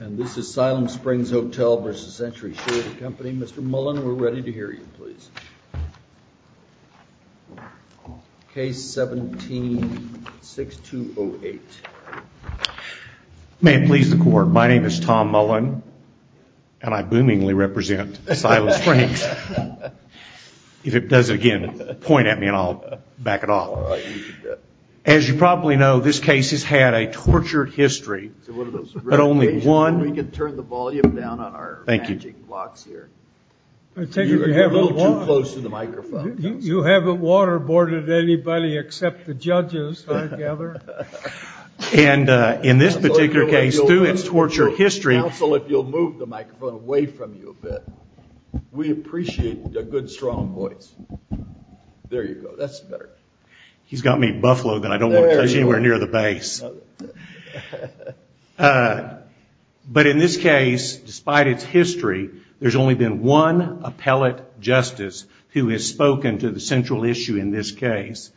And this is Siloam Springs Hotel v. Century Surety Company. Mr. Mullen, we're ready to hear you, please. Case 17-6208. May it please the Court, my name is Tom Mullen, and I boomingly represent Siloam Springs. If it does it again, point at me and I'll back it off. As you probably know, this case has had a tortured history, but only one... We can turn the volume down on our managing blocks here. You're a little too close to the microphone. You haven't waterboarded anybody except the judges, I gather. And in this particular case, through its tortured history... Counsel, if you'll move the microphone away from you a bit. We appreciate a good strong voice. There you go, that's better. He's got me buffaloed that I don't want to touch anywhere near the base. But in this case, despite its history, there's only been one appellate justice who has spoken to the central issue in this case.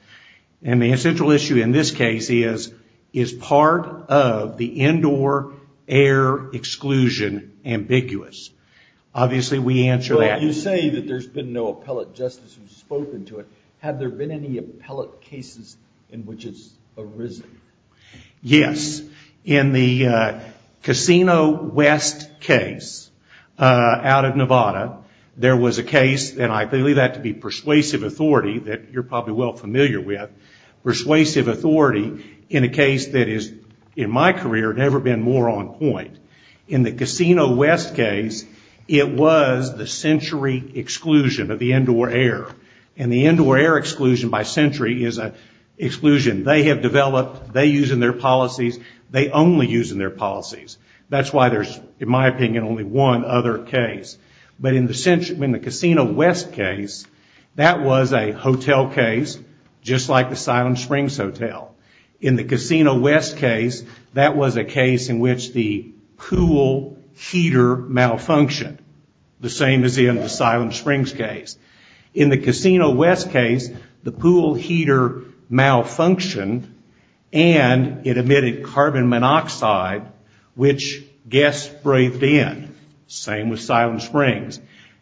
And the central issue in this case is, is part of the indoor air exclusion ambiguous? Obviously, we answer that. You say that there's been no appellate justice who's spoken to it. Have there been any appellate cases in which it's arisen? Yes. In the Casino West case out of Nevada, there was a case, and I believe that to be persuasive authority that you're probably well familiar with, persuasive authority in a case that has, in my career, never been more on point. In the Casino West case, it was the century exclusion of the indoor air. And the indoor air exclusion by century is an exclusion they have developed, they use in their policies, they only use in their policies. That's why there's, in my opinion, only one other case. But in the Casino West case, that was a hotel case, just like the Silent Springs Hotel. In the Casino West case, that was a case in which the pool heater malfunctioned, the same as in the Silent Springs case. In the Casino West case, the pool heater malfunctioned and it emitted carbon monoxide, which guests breathed in. Same with Silent Springs.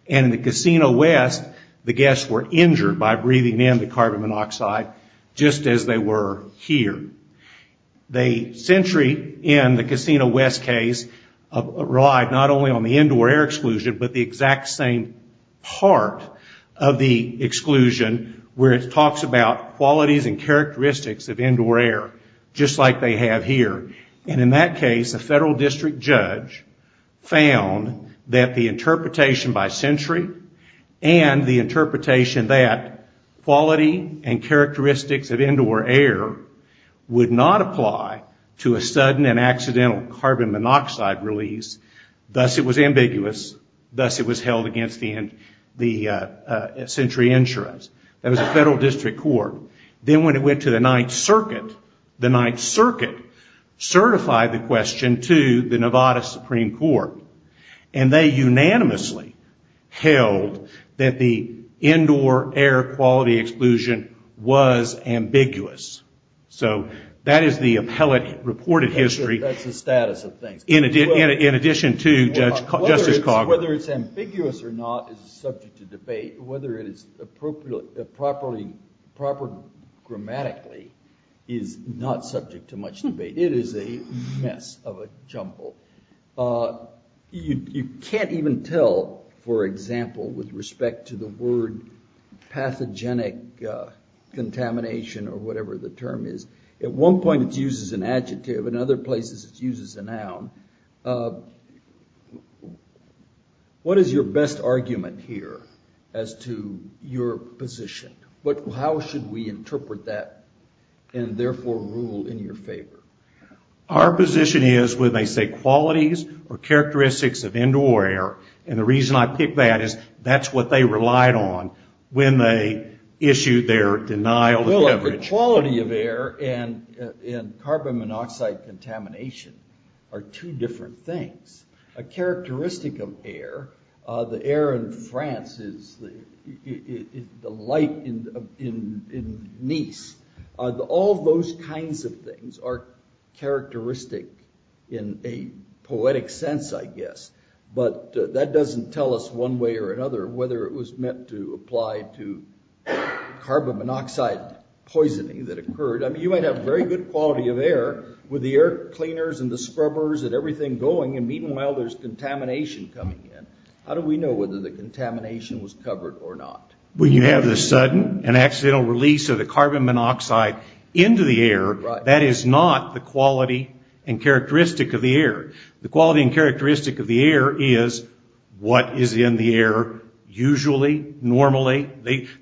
And in the Casino West, the guests were injured by breathing in the carbon monoxide, just as they were here. The century in the Casino West case relied not only on the indoor air exclusion, but the exact same part of the exclusion, where it talks about qualities and characteristics of indoor air, just like they have here. And in that case, a federal district judge found that the interpretation by century and the interpretation that quality and characteristics of indoor air would not apply to a sudden and accidental carbon monoxide release, thus it was ambiguous, thus it was held against the century insurance. That was a federal district court. Then when it went to the Ninth Circuit, the Ninth Circuit certified the question to the Nevada Supreme Court, and they unanimously held that the indoor air quality exclusion was ambiguous. So that is the appellate reported history. That's the status of things. In addition to Justice Cogburn. Whether it's ambiguous or not is subject to debate. Whether it is properly grammatically is not subject to much debate. It is a mess of a jumble. You can't even tell, for example, with respect to the word pathogenic contamination, or whatever the term is. At one point it's used as an adjective, and other places it's used as a noun. What is your best argument here as to your position? How should we interpret that and therefore rule in your favor? Our position is when they say qualities or characteristics of indoor air, and the reason I pick that is that's what they relied on when they issued their denial of coverage. The quality of air and carbon monoxide contamination are two different things. A characteristic of air, the air in France is the light in Nice. All those kinds of things are characteristic in a poetic sense, I guess. But that doesn't tell us one way or another whether it was meant to apply to carbon monoxide poisoning that occurred. You might have very good quality of air with the air cleaners and the scrubbers and everything going, and meanwhile there's contamination coming in. How do we know whether the contamination was covered or not? When you have the sudden and accidental release of the carbon monoxide into the air, that is not the quality and characteristic of the air. The quality and characteristic of the air is what is in the air usually, normally.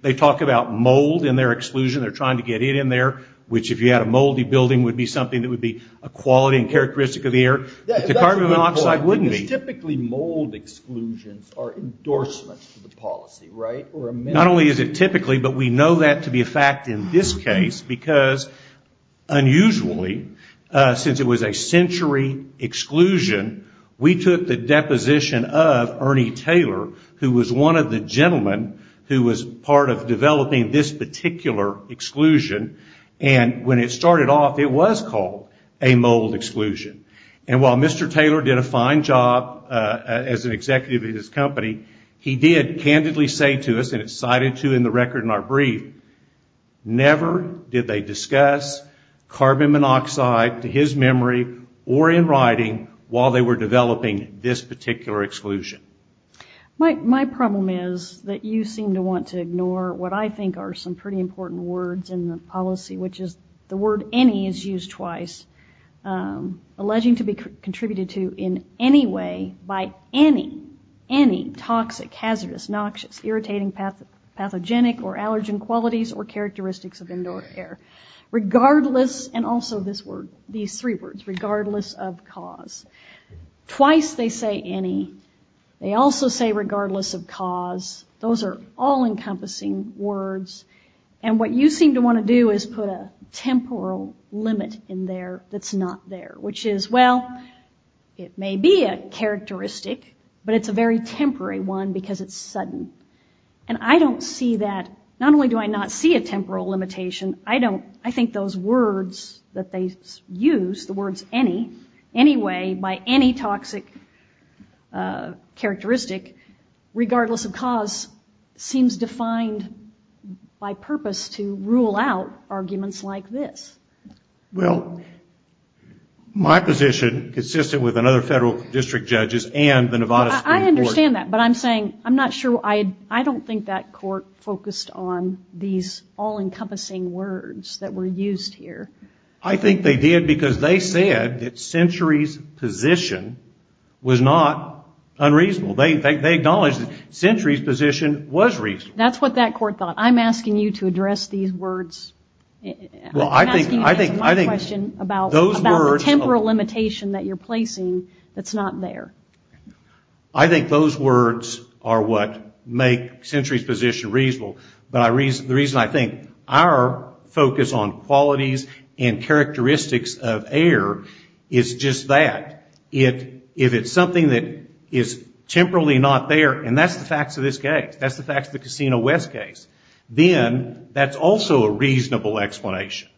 They talk about mold in their exclusion. They're trying to get it in there, which if you had a moldy building would be something that would be a quality and characteristic of the air. The carbon monoxide wouldn't be. Typically mold exclusions are endorsements of the policy, right? Not only is it typically, but we know that to be a fact in this case because unusually, since it was a century exclusion, we took the deposition of Ernie Taylor, who was one of the gentlemen who was part of developing this particular exclusion, and when it started off it was called a mold exclusion. And while Mr. Taylor did a fine job as an executive of his company, he did candidly say to us, and it's cited to in the record in our brief, never did they discuss carbon monoxide to his memory or in writing while they were developing this particular exclusion. My problem is that you seem to want to ignore what I think are some pretty important words in the policy, which is the word any is used twice, alleging to be contributed to in any way by any, any toxic, hazardous, noxious, irritating, pathogenic, or allergen qualities or characteristics of indoor air. Regardless, and also this word, these three words, regardless of cause. Twice they say any. They also say regardless of cause. Those are all encompassing words, and what you seem to want to do is put a temporal limit in there that's not there, which is, well, it may be a characteristic, but it's a very temporary one because it's sudden. And I don't see that, not only do I not see a temporal limitation, I don't, I think those words that they use, the words any, any way by any toxic characteristic, regardless of cause, seems defined by purpose to rule out arguments like this. Well, my position, consistent with another federal district judges and the Nevada Supreme Court. I understand that, but I'm saying, I'm not sure, I don't think that court focused on these all-encompassing words that were used here. I think they did because they said that Century's position was not unreasonable. They acknowledged that Century's position was reasonable. That's what that court thought. I'm asking you to address these words. I'm asking you to answer my question about the temporal limitation that you're placing that's not there. I think those words are what make Century's position reasonable, but the reason I think our focus on qualities and characteristics of error is just that. If it's something that is temporally not there, and that's the facts of this case, that's the facts of the Casino West case, then that's also a reasonable explanation.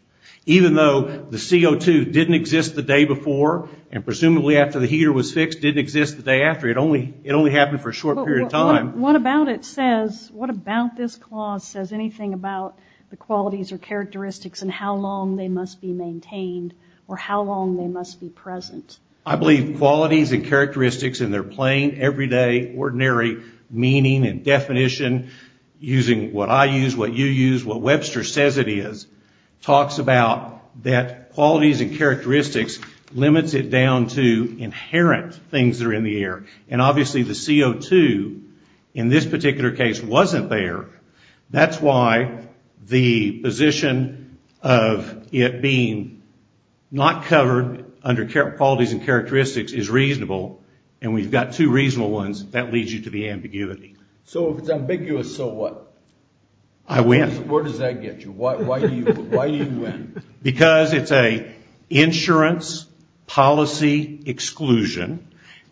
Even though the CO2 didn't exist the day before, and presumably after the heater was fixed, didn't exist the day after, it only happened for a short period of time. What about it says, what about this clause says anything about the qualities or characteristics and how long they must be maintained, or how long they must be present? I believe qualities and characteristics in their plain, everyday, ordinary meaning and definition, using what I use, what you use, what Webster says it is, talks about that qualities and characteristics limits it down to inherent things that are in the air. And obviously the CO2 in this particular case wasn't there. That's why the position of it being not covered under qualities and characteristics is reasonable, and we've got two reasonable ones, that leads you to the ambiguity. So if it's ambiguous, so what? I win. Where does that get you? Why do you win? Because it's an insurance policy exclusion,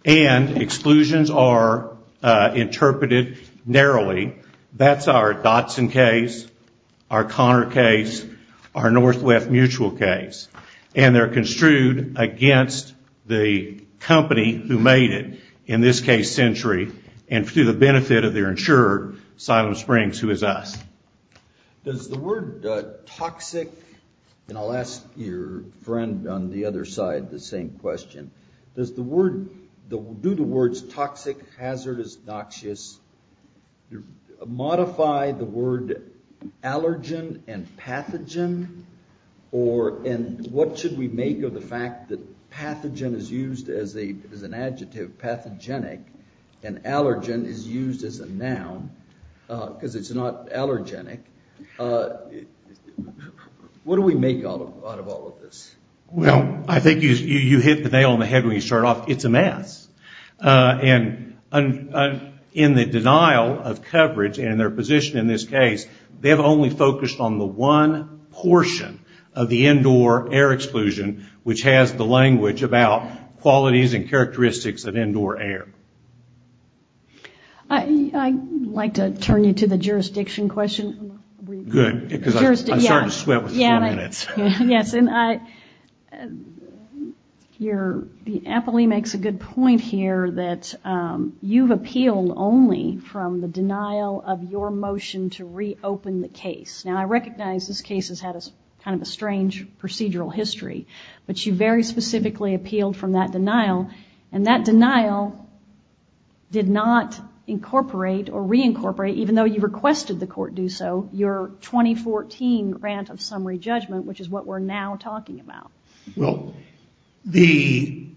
and exclusions are interpreted narrowly. That's our Dotson case, our Connor case, our Northwest mutual case. And they're construed against the company who made it, in this case Century, and through the benefit of their insurer, Asylum Springs, who is us. Does the word toxic, and I'll ask your friend on the other side the same question, does the word, do the words toxic, hazardous, noxious, modify the word allergen and pathogen, and what should we make of the fact that pathogen is used as an adjective, pathogenic, and allergen is used as a noun, because it's not allergenic, what do we make out of all of this? Well, I think you hit the nail on the head when you start off, it's a mess. And in the denial of coverage, and in their position in this case, they've only focused on the one portion of the indoor air exclusion, which has the language about qualities and characteristics of indoor air. I'd like to turn you to the jurisdiction question. Good, because I'm starting to sweat with the four minutes. Yes, and your, the appellee makes a good point here that you've appealed only from the denial of your motion to reopen the case. Now, I recognize this case has had kind of a strange procedural history, but you very specifically appealed from that denial, and that denial did not incorporate or reincorporate, even though you requested the court do so, your 2014 grant of summary judgment, which is what we're now talking about. Well, the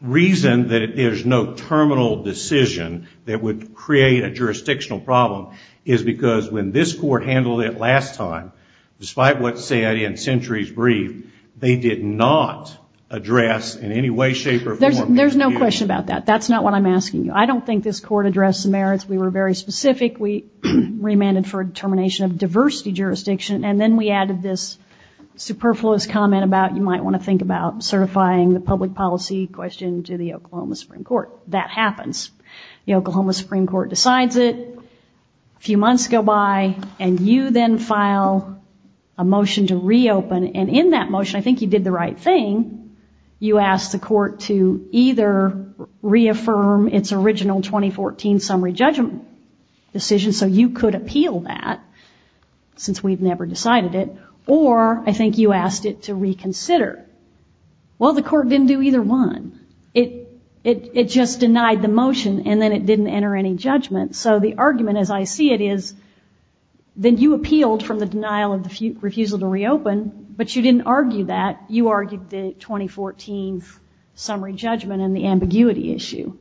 reason that there's no terminal decision that would create a jurisdictional problem is because when this court handled it last time, despite what's said in Sentry's brief, they did not address in any way, shape or form... There's no question about that. That's not what I'm asking you. I don't think this court addressed the merits. We were very specific. We remanded for a determination of diversity jurisdiction, and then we added this superfluous comment about you might want to think about the Oklahoma Supreme Court decides it, a few months go by, and you then file a motion to reopen, and in that motion, I think you did the right thing. You asked the court to either reaffirm its original 2014 summary judgment decision, so you could appeal that, since we've never decided it, or I think you asked it to reconsider. Well, the court didn't do either one. It just denied the motion, and then it didn't enter any judgment. So the argument, as I see it, is that you appealed from the denial of the refusal to reopen, but you didn't argue that. You argued the 2014 summary judgment and the ambiguity issue.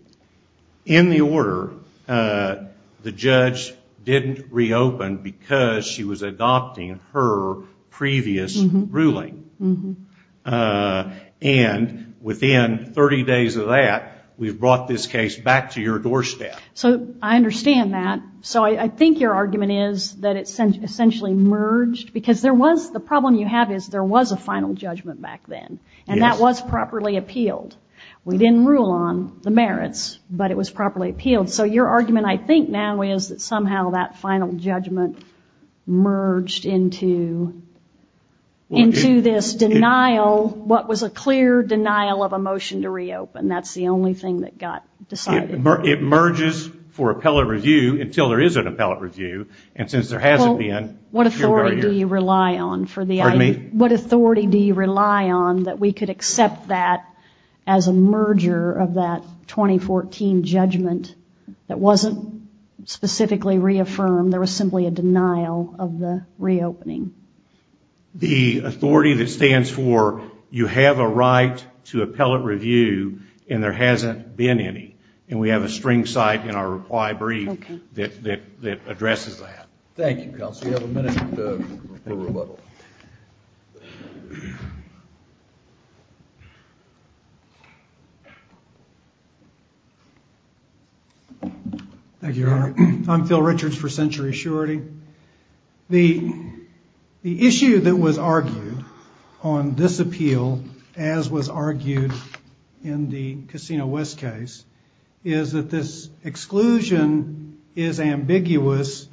In the order, the judge didn't reopen because she was adopting her previous ruling. And within 30 days of that, we've brought this case back to your doorstep. So I understand that. So I think your argument is that it essentially merged, because the problem you have is there was a final judgment back then, and that was properly appealed. We didn't rule on the merits, but it was properly appealed. So your argument I think now is that somehow that final judgment merged into this denial, what was a clear denial of a motion to reopen. That's the only thing that got decided. It merges for appellate review until there is an appellate review, and since there hasn't been... Well, what authority do you rely on that we could accept that as a merger of that 2014 judgment that wasn't specifically reaffirmed? There was simply a denial of the reopening. The authority that stands for you have a right to appellate review, and there hasn't been any. And we have a string cite in our reply brief that addresses that. Thank you, counsel. You have a minute for rebuttal. Thank you, Your Honor. I'm Phil Richards for Century Surety. The issue that was argued on this appeal, as was argued in the Casino West case, is that this exclusion is ambiguous,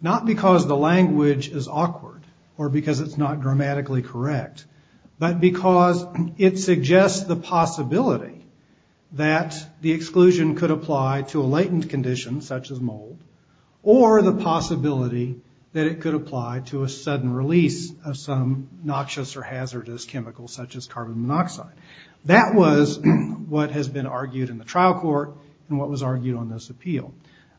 not because the language is awkward, because it's not grammatically correct, but because it suggests the possibility that the exclusion could apply to a latent condition such as mold, or the possibility that it could apply to a sudden release of some noxious or hazardous chemical such as carbon monoxide. That was what has been argued in the trial court and what was argued on this appeal.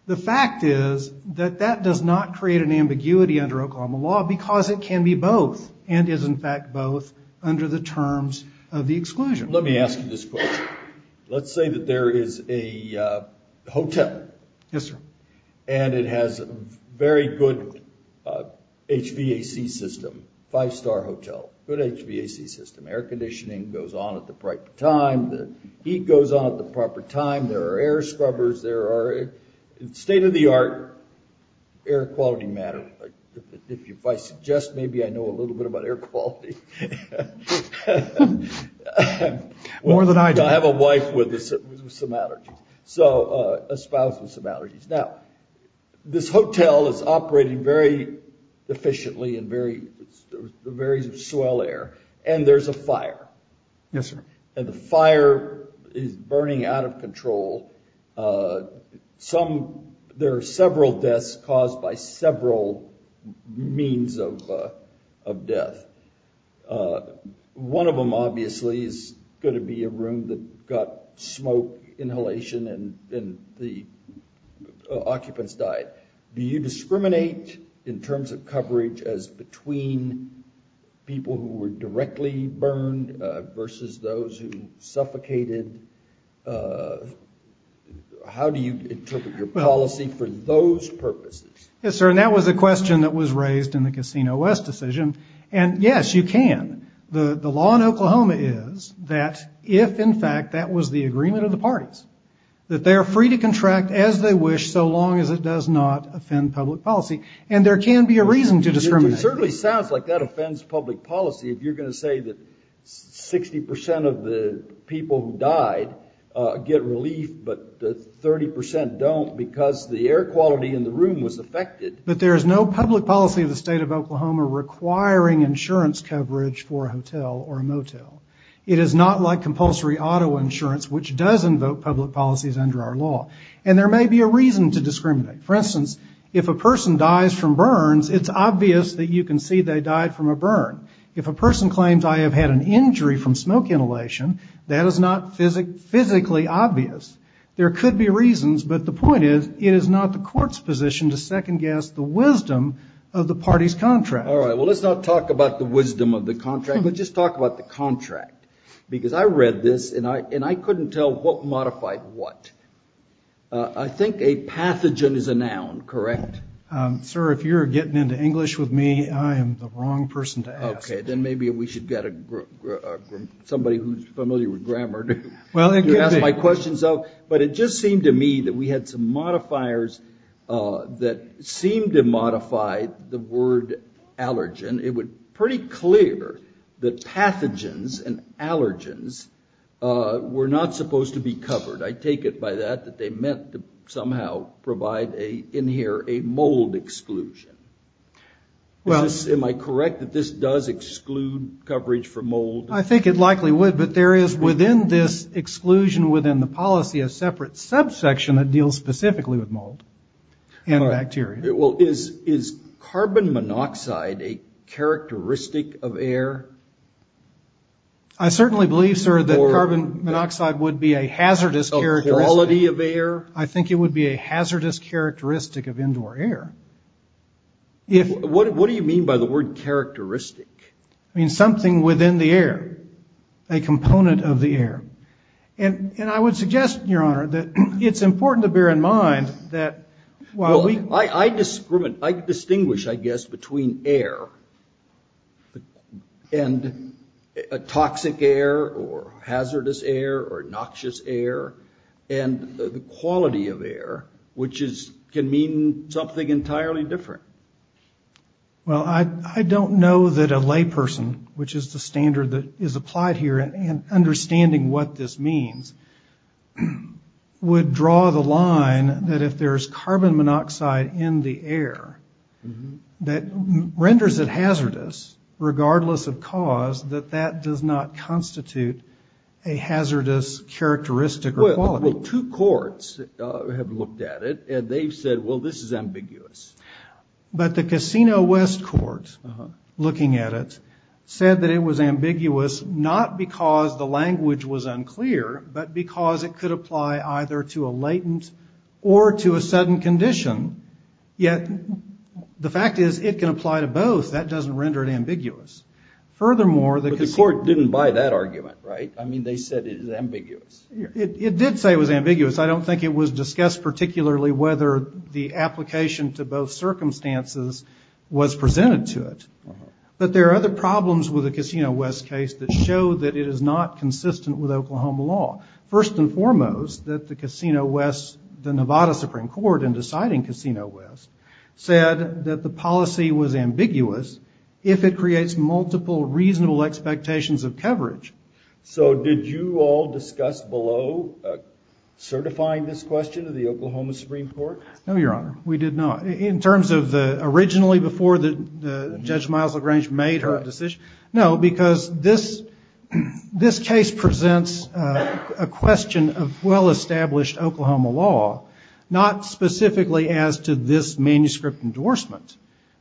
The fact is that that does not create an ambiguity under Oklahoma law because it can be both, and is in fact both under the terms of the exclusion. Let me ask you this question. Let's say that there is a hotel. Yes, sir. And it has a very good HVAC system, five-star hotel, good HVAC system. Air conditioning goes on at the right time, the heat goes on at the proper time, there are air scrubbers, there are state-of-the-art air quality matters. If I suggest maybe I know a little bit about air quality. More than I do. I have a wife with some allergies, a spouse with some allergies. Now, this hotel is operating very efficiently and there's a very swell air, and there's a fire. Yes, sir. And the fire is burning out of control. There are several deaths caused by several means of death. One of them, obviously, is going to be a room that got smoke inhalation and the occupants died. Do you discriminate in terms of coverage as between people who were directly burned versus those who suffocated? How do you interpret your policy for those purposes? Yes, sir, and that was a question that was raised in the Casino West decision, and yes, you can. The law in Oklahoma is that if, in fact, that was the agreement of the parties, that they are free to contract as they wish so long as it does not offend public policy. And there can be a reason to discriminate. It certainly sounds like that offends public policy if you're going to say that 60 percent of the people who died get relief but 30 percent don't because the air quality in the room was affected. But there is no public policy of the state of Oklahoma requiring insurance coverage for a hotel or a motel. It is not like compulsory auto insurance, which does invoke public policies under our law. And there may be a reason to discriminate. For instance, if a person dies from burns, it's obvious that you can see they died from a burn. If a person claims I have had an injury from smoke inhalation, that is not physically obvious. There could be reasons, but the point is it is not the court's position to second guess the wisdom of the party's contract. All right, well, let's not talk about the wisdom of the contract, but just talk about the contract. Because I read this, and I couldn't tell what modified what. I think a pathogen is a noun, correct? Sir, if you're getting into English with me, I am the wrong person to ask. Okay, then maybe we should get somebody who is familiar with grammar to ask my questions. But it just seemed to me that we had some modifiers that seemed to modify the word allergen. It was pretty clear that pathogens and allergens were not supposed to be covered. I take it by that that they meant to somehow provide in here a mold exclusion. Am I correct that this does exclude coverage for mold? I think it likely would, but there is within this exclusion within the policy a separate subsection that deals specifically with mold and bacteria. Well, is carbon monoxide a characteristic of air? I certainly believe, sir, that carbon monoxide would be a hazardous characteristic. I think it would be a hazardous characteristic of indoor air. What do you mean by the word characteristic? I mean something within the air, a component of the air. And I would suggest, Your Honor, that it's important to bear in mind that while we... I distinguish, I guess, between air and toxic air or hazardous air or noxious air. And the quality of air, which can mean something entirely different. Well, I don't know that a layperson, which is the standard that is applied here, and understanding what this means, would draw the line that if there's carbon monoxide in the air, that renders it hazardous, regardless of cause, that that does not constitute a hazardous characteristic or quality. Well, two courts have looked at it, and they've said, well, this is ambiguous. But the Casino West Court, looking at it, said that it was ambiguous, not because the language was unclear, but because it could apply either to a latent or to a sudden condition. Yet the fact is, it can apply to both. That doesn't render it ambiguous. But the court didn't buy that argument, right? I mean, they said it was ambiguous. It did say it was ambiguous. I don't think it was discussed particularly whether the application to both circumstances was presented to it. But there are other problems with the Casino West case that show that it is not consistent with Oklahoma law. First and foremost, that the Casino West, the Nevada Supreme Court, in deciding Casino West, said that the policy was ambiguous, if it creates multiple reasonable expectations of coverage. So did you all discuss below certifying this question to the Oklahoma Supreme Court? No, Your Honor, we did not. In terms of originally, before Judge Miles-LaGrange made her decision? No, because this case presents a question of well-established Oklahoma law, not specifically as to this manuscript endorsement.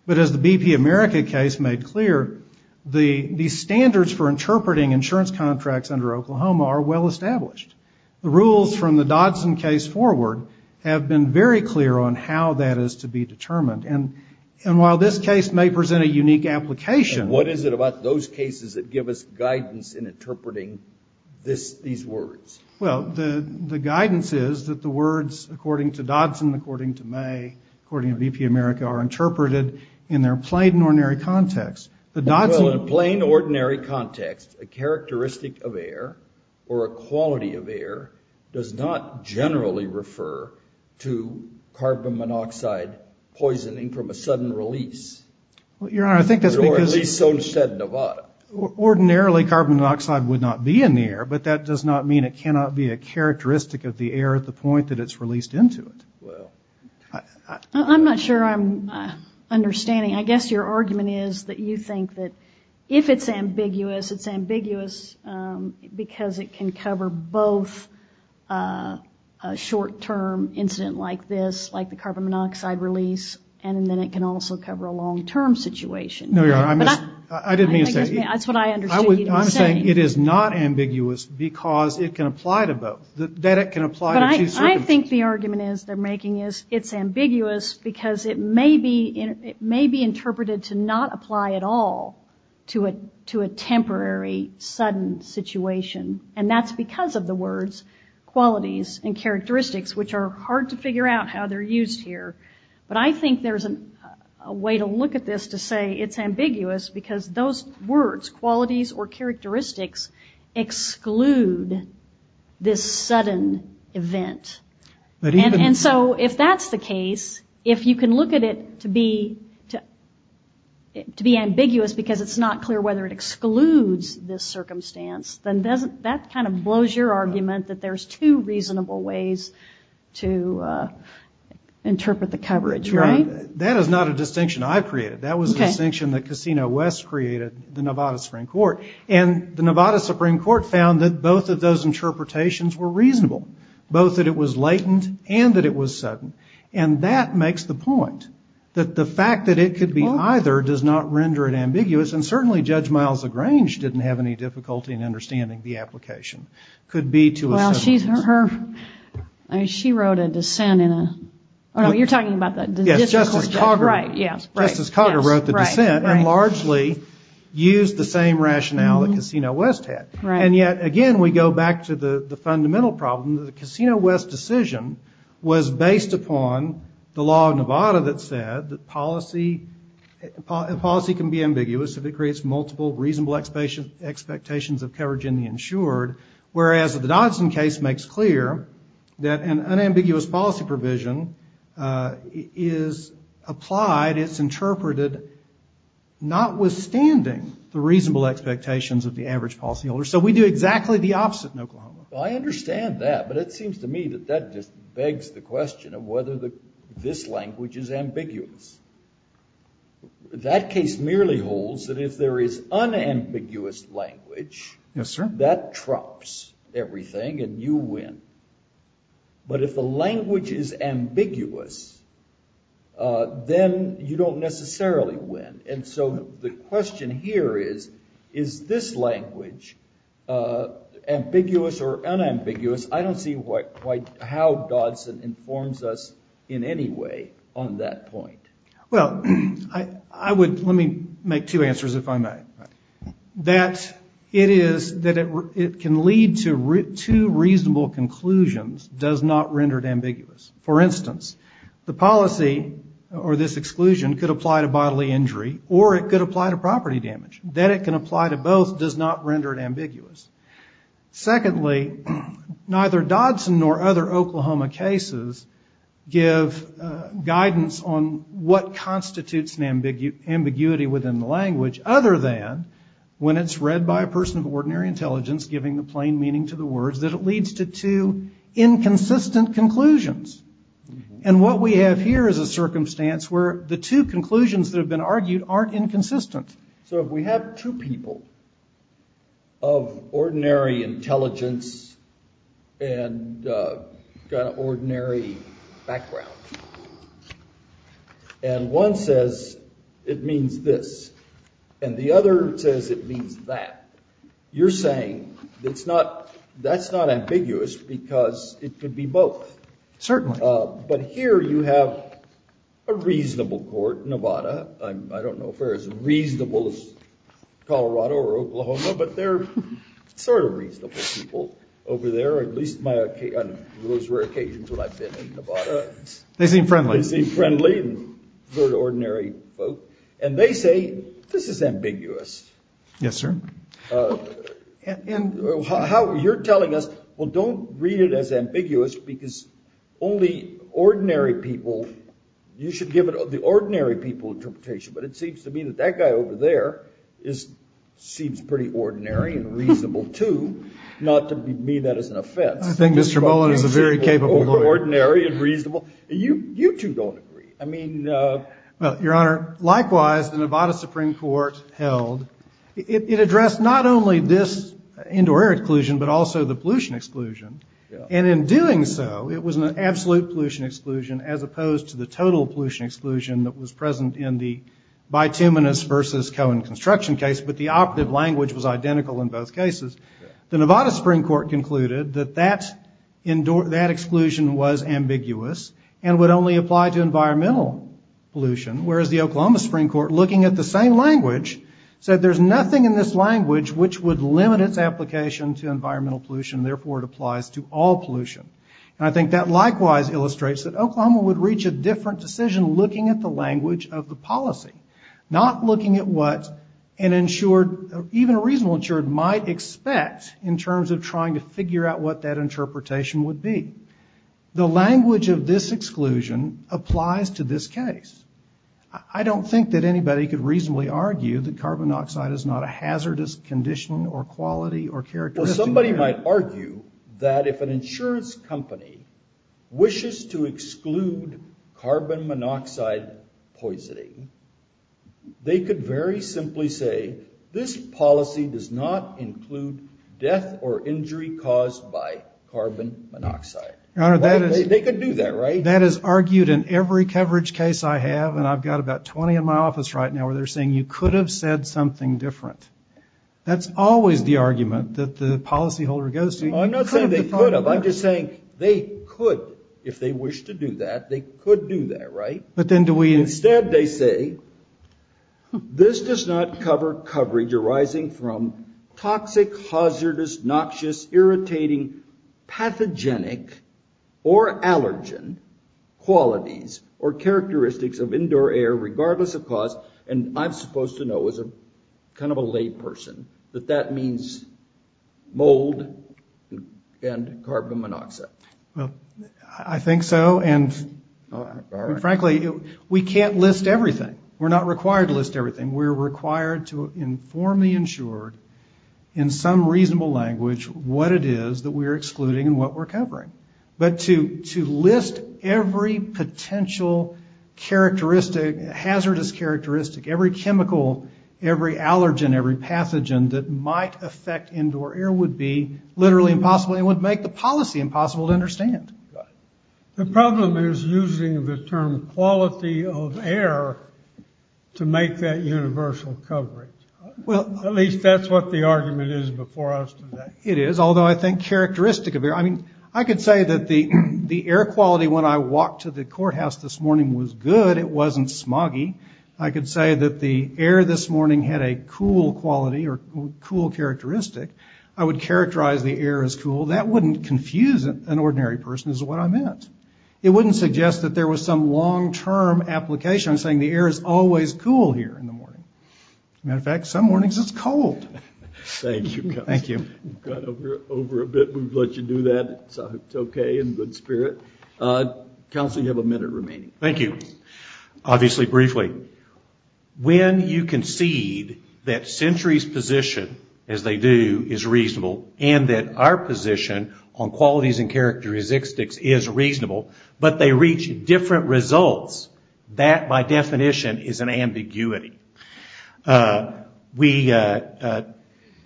But as the BP America case made clear, the standards for interpreting insurance contracts under Oklahoma are well-established. The rules from the Dodson case forward have been very clear on how that is to be determined. And while this case may present a unique application... What is it about those cases that give us guidance in interpreting these words? Well, the guidance is that the words according to Dodson, according to May, according to BP America, are interpreted in their plain and ordinary context. Well, in plain ordinary context, a characteristic of air or a quality of air does not generally refer to carbon monoxide poisoning from a sudden release. Well, Your Honor, I think that's because... It cannot be a characteristic of the air at the point that it's released into it. I'm not sure I'm understanding. I guess your argument is that you think that if it's ambiguous, it's ambiguous because it can cover both a short-term incident like this, like the carbon monoxide release, and then it can also cover a long-term situation. No, Your Honor, I didn't mean to say... I'm saying it is not ambiguous because it can apply to both, that it can apply to two circumstances. But I think the argument they're making is it's ambiguous because it may be interpreted to not apply at all to a temporary, sudden situation. And that's because of the words, qualities, and characteristics, which are hard to figure out how they're used here. But I think there's a way to look at this to say it's ambiguous because those words, qualities, or characteristics exclude this sudden event. And so if that's the case, if you can look at it to be ambiguous because it's not clear whether it excludes this circumstance, then that kind of blows your argument that there's two reasonable ways to interpret the coverage, right? That is not a distinction I've created. That was a distinction that Casino West created, the Nevada Supreme Court. And the Nevada Supreme Court found that both of those interpretations were reasonable, both that it was latent and that it was sudden. And that makes the point that the fact that it could be either does not render it ambiguous, and certainly Judge Miles LaGrange didn't have any difficulty in understanding the application, could be to a certain extent. Justice Cogger wrote the dissent and largely used the same rationale that Casino West had. And yet, again, we go back to the fundamental problem that the Casino West decision was based upon the law of Nevada that said that policy can be ambiguous if it creates multiple reasonable expectations of coverage in the insured, whereas the Dodson case makes clear that an unambiguous policy provision is applied, it's interpreted notwithstanding the reasonable expectations of the average policyholder. So we do exactly the opposite in Oklahoma. Well, I understand that, but it seems to me that that just begs the question of whether this language is ambiguous. That case merely holds that if there is unambiguous language, that trumps everything and you win. But if the language is ambiguous, then you don't necessarily win. And so the question here is, is this language ambiguous or unambiguous? I don't see how Dodson informs us in any way on that point. Well, let me make two answers, if I may. That it can lead to two reasonable conclusions does not render it ambiguous. For instance, the policy or this exclusion could apply to bodily injury or it could apply to property damage. The fact that it can apply to both does not render it ambiguous. Secondly, neither Dodson nor other Oklahoma cases give guidance on what constitutes an ambiguity within the language, other than when it's read by a person of ordinary intelligence, giving the plain meaning to the words, that it leads to two inconsistent conclusions. And what we have here is a circumstance where the two conclusions that have been argued aren't inconsistent. So if we have two people of ordinary intelligence and got an ordinary background, and one says it means this and the other says it means that, you're saying that's not ambiguous because it could be both. Certainly. But here you have a reasonable court, Nevada. I don't know if they're as reasonable as Colorado or Oklahoma, but they're sort of reasonable people over there, or at least on those rare occasions where I've been in Nevada. They seem friendly. And they say this is ambiguous. Yes, sir. And you're telling us, well, don't read it as ambiguous because only ordinary people, you should give it the ordinary people interpretation. But it seems to me that that guy over there seems pretty ordinary and reasonable, too, not to me that as an offense. I think Mr. Mullen is a very capable lawyer. I mean, your Honor, likewise, the Nevada Supreme Court held, it addressed not only this indoor air exclusion, but also the pollution exclusion. And in doing so, it was an absolute pollution exclusion as opposed to the total pollution exclusion that was present in the bituminous versus Cohen construction case. But the operative language was identical in both cases. The Nevada Supreme Court concluded that that exclusion was ambiguous and would only apply to environmental pollution. Whereas the Oklahoma Supreme Court, looking at the same language, said there's nothing in this language which would limit its application to environmental pollution, therefore it applies to all pollution. And I think that likewise illustrates that Oklahoma would reach a different decision looking at the language of the policy, not looking at what an insured, even a reasonable insured, might expect in terms of trying to figure out what that interpretation would be. The language of this exclusion applies to this case. I don't think that anybody could reasonably argue that carbon monoxide is not a hazardous condition or quality or characteristic. Well, somebody might argue that if an insurance company wishes to exclude carbon monoxide poisoning, they could very simply say this policy does not include death or injury caused by carbon monoxide. They could do that, right? That is argued in every coverage case I have, and I've got about 20 in my office right now where they're saying you could have said something different. That's always the argument that the policyholder goes to. I'm not saying they could have, I'm just saying they could, if they wish to do that, they could do that, right? But then do we instead, they say this does not cover coverage arising from toxic, hazardous, noxious, irritating, pathogenic, or allergen qualities or characteristics of indoor air, regardless of cause. And I'm supposed to know as a kind of a lay person that that means mold, and carbon monoxide. Well, I think so, and frankly, we can't list everything. We're not required to list everything. We're required to inform the insured in some reasonable language what it is that we're excluding and what we're covering. But to list every potential characteristic, hazardous characteristic, every chemical, every allergen, every pathogen that might affect indoor air would be literally impossible and would make the policy impossible to understand. The problem is using the term quality of air to make that universal coverage. At least that's what the argument is before us today. It is, although I think characteristic of air, I mean, I could say that the air quality when I walked to the courthouse this morning was good, it wasn't smoggy. I would characterize the air as cool. That wouldn't confuse an ordinary person is what I meant. It wouldn't suggest that there was some long-term application. I'm saying the air is always cool here in the morning. As a matter of fact, some mornings it's cold. Thank you, counsel. Counsel, you have a minute remaining. When you concede that Century's position, as they do, is reasonable and that our position on qualities and characteristics is reasonable, but they reach different results, that by definition is an ambiguity.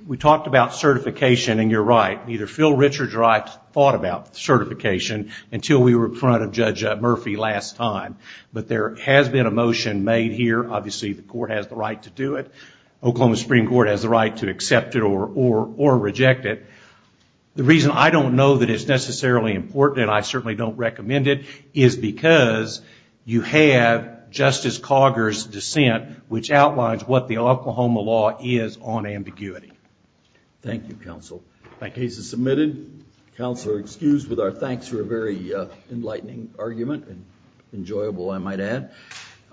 We talked about certification and you're right. Neither Phil Richard or I thought about certification until we were in front of Judge Murphy last time. But there has been a motion made here, obviously the court has the right to do it. Oklahoma Supreme Court has the right to accept it or reject it. The reason I don't know that it's necessarily important and I certainly don't recommend it is because you have Justice Cogger's consent which outlines what the Oklahoma law is on ambiguity. Thank you, counsel.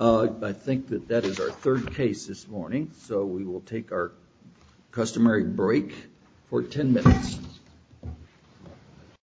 I think that is our third case this morning, so we will take our customary break for ten minutes.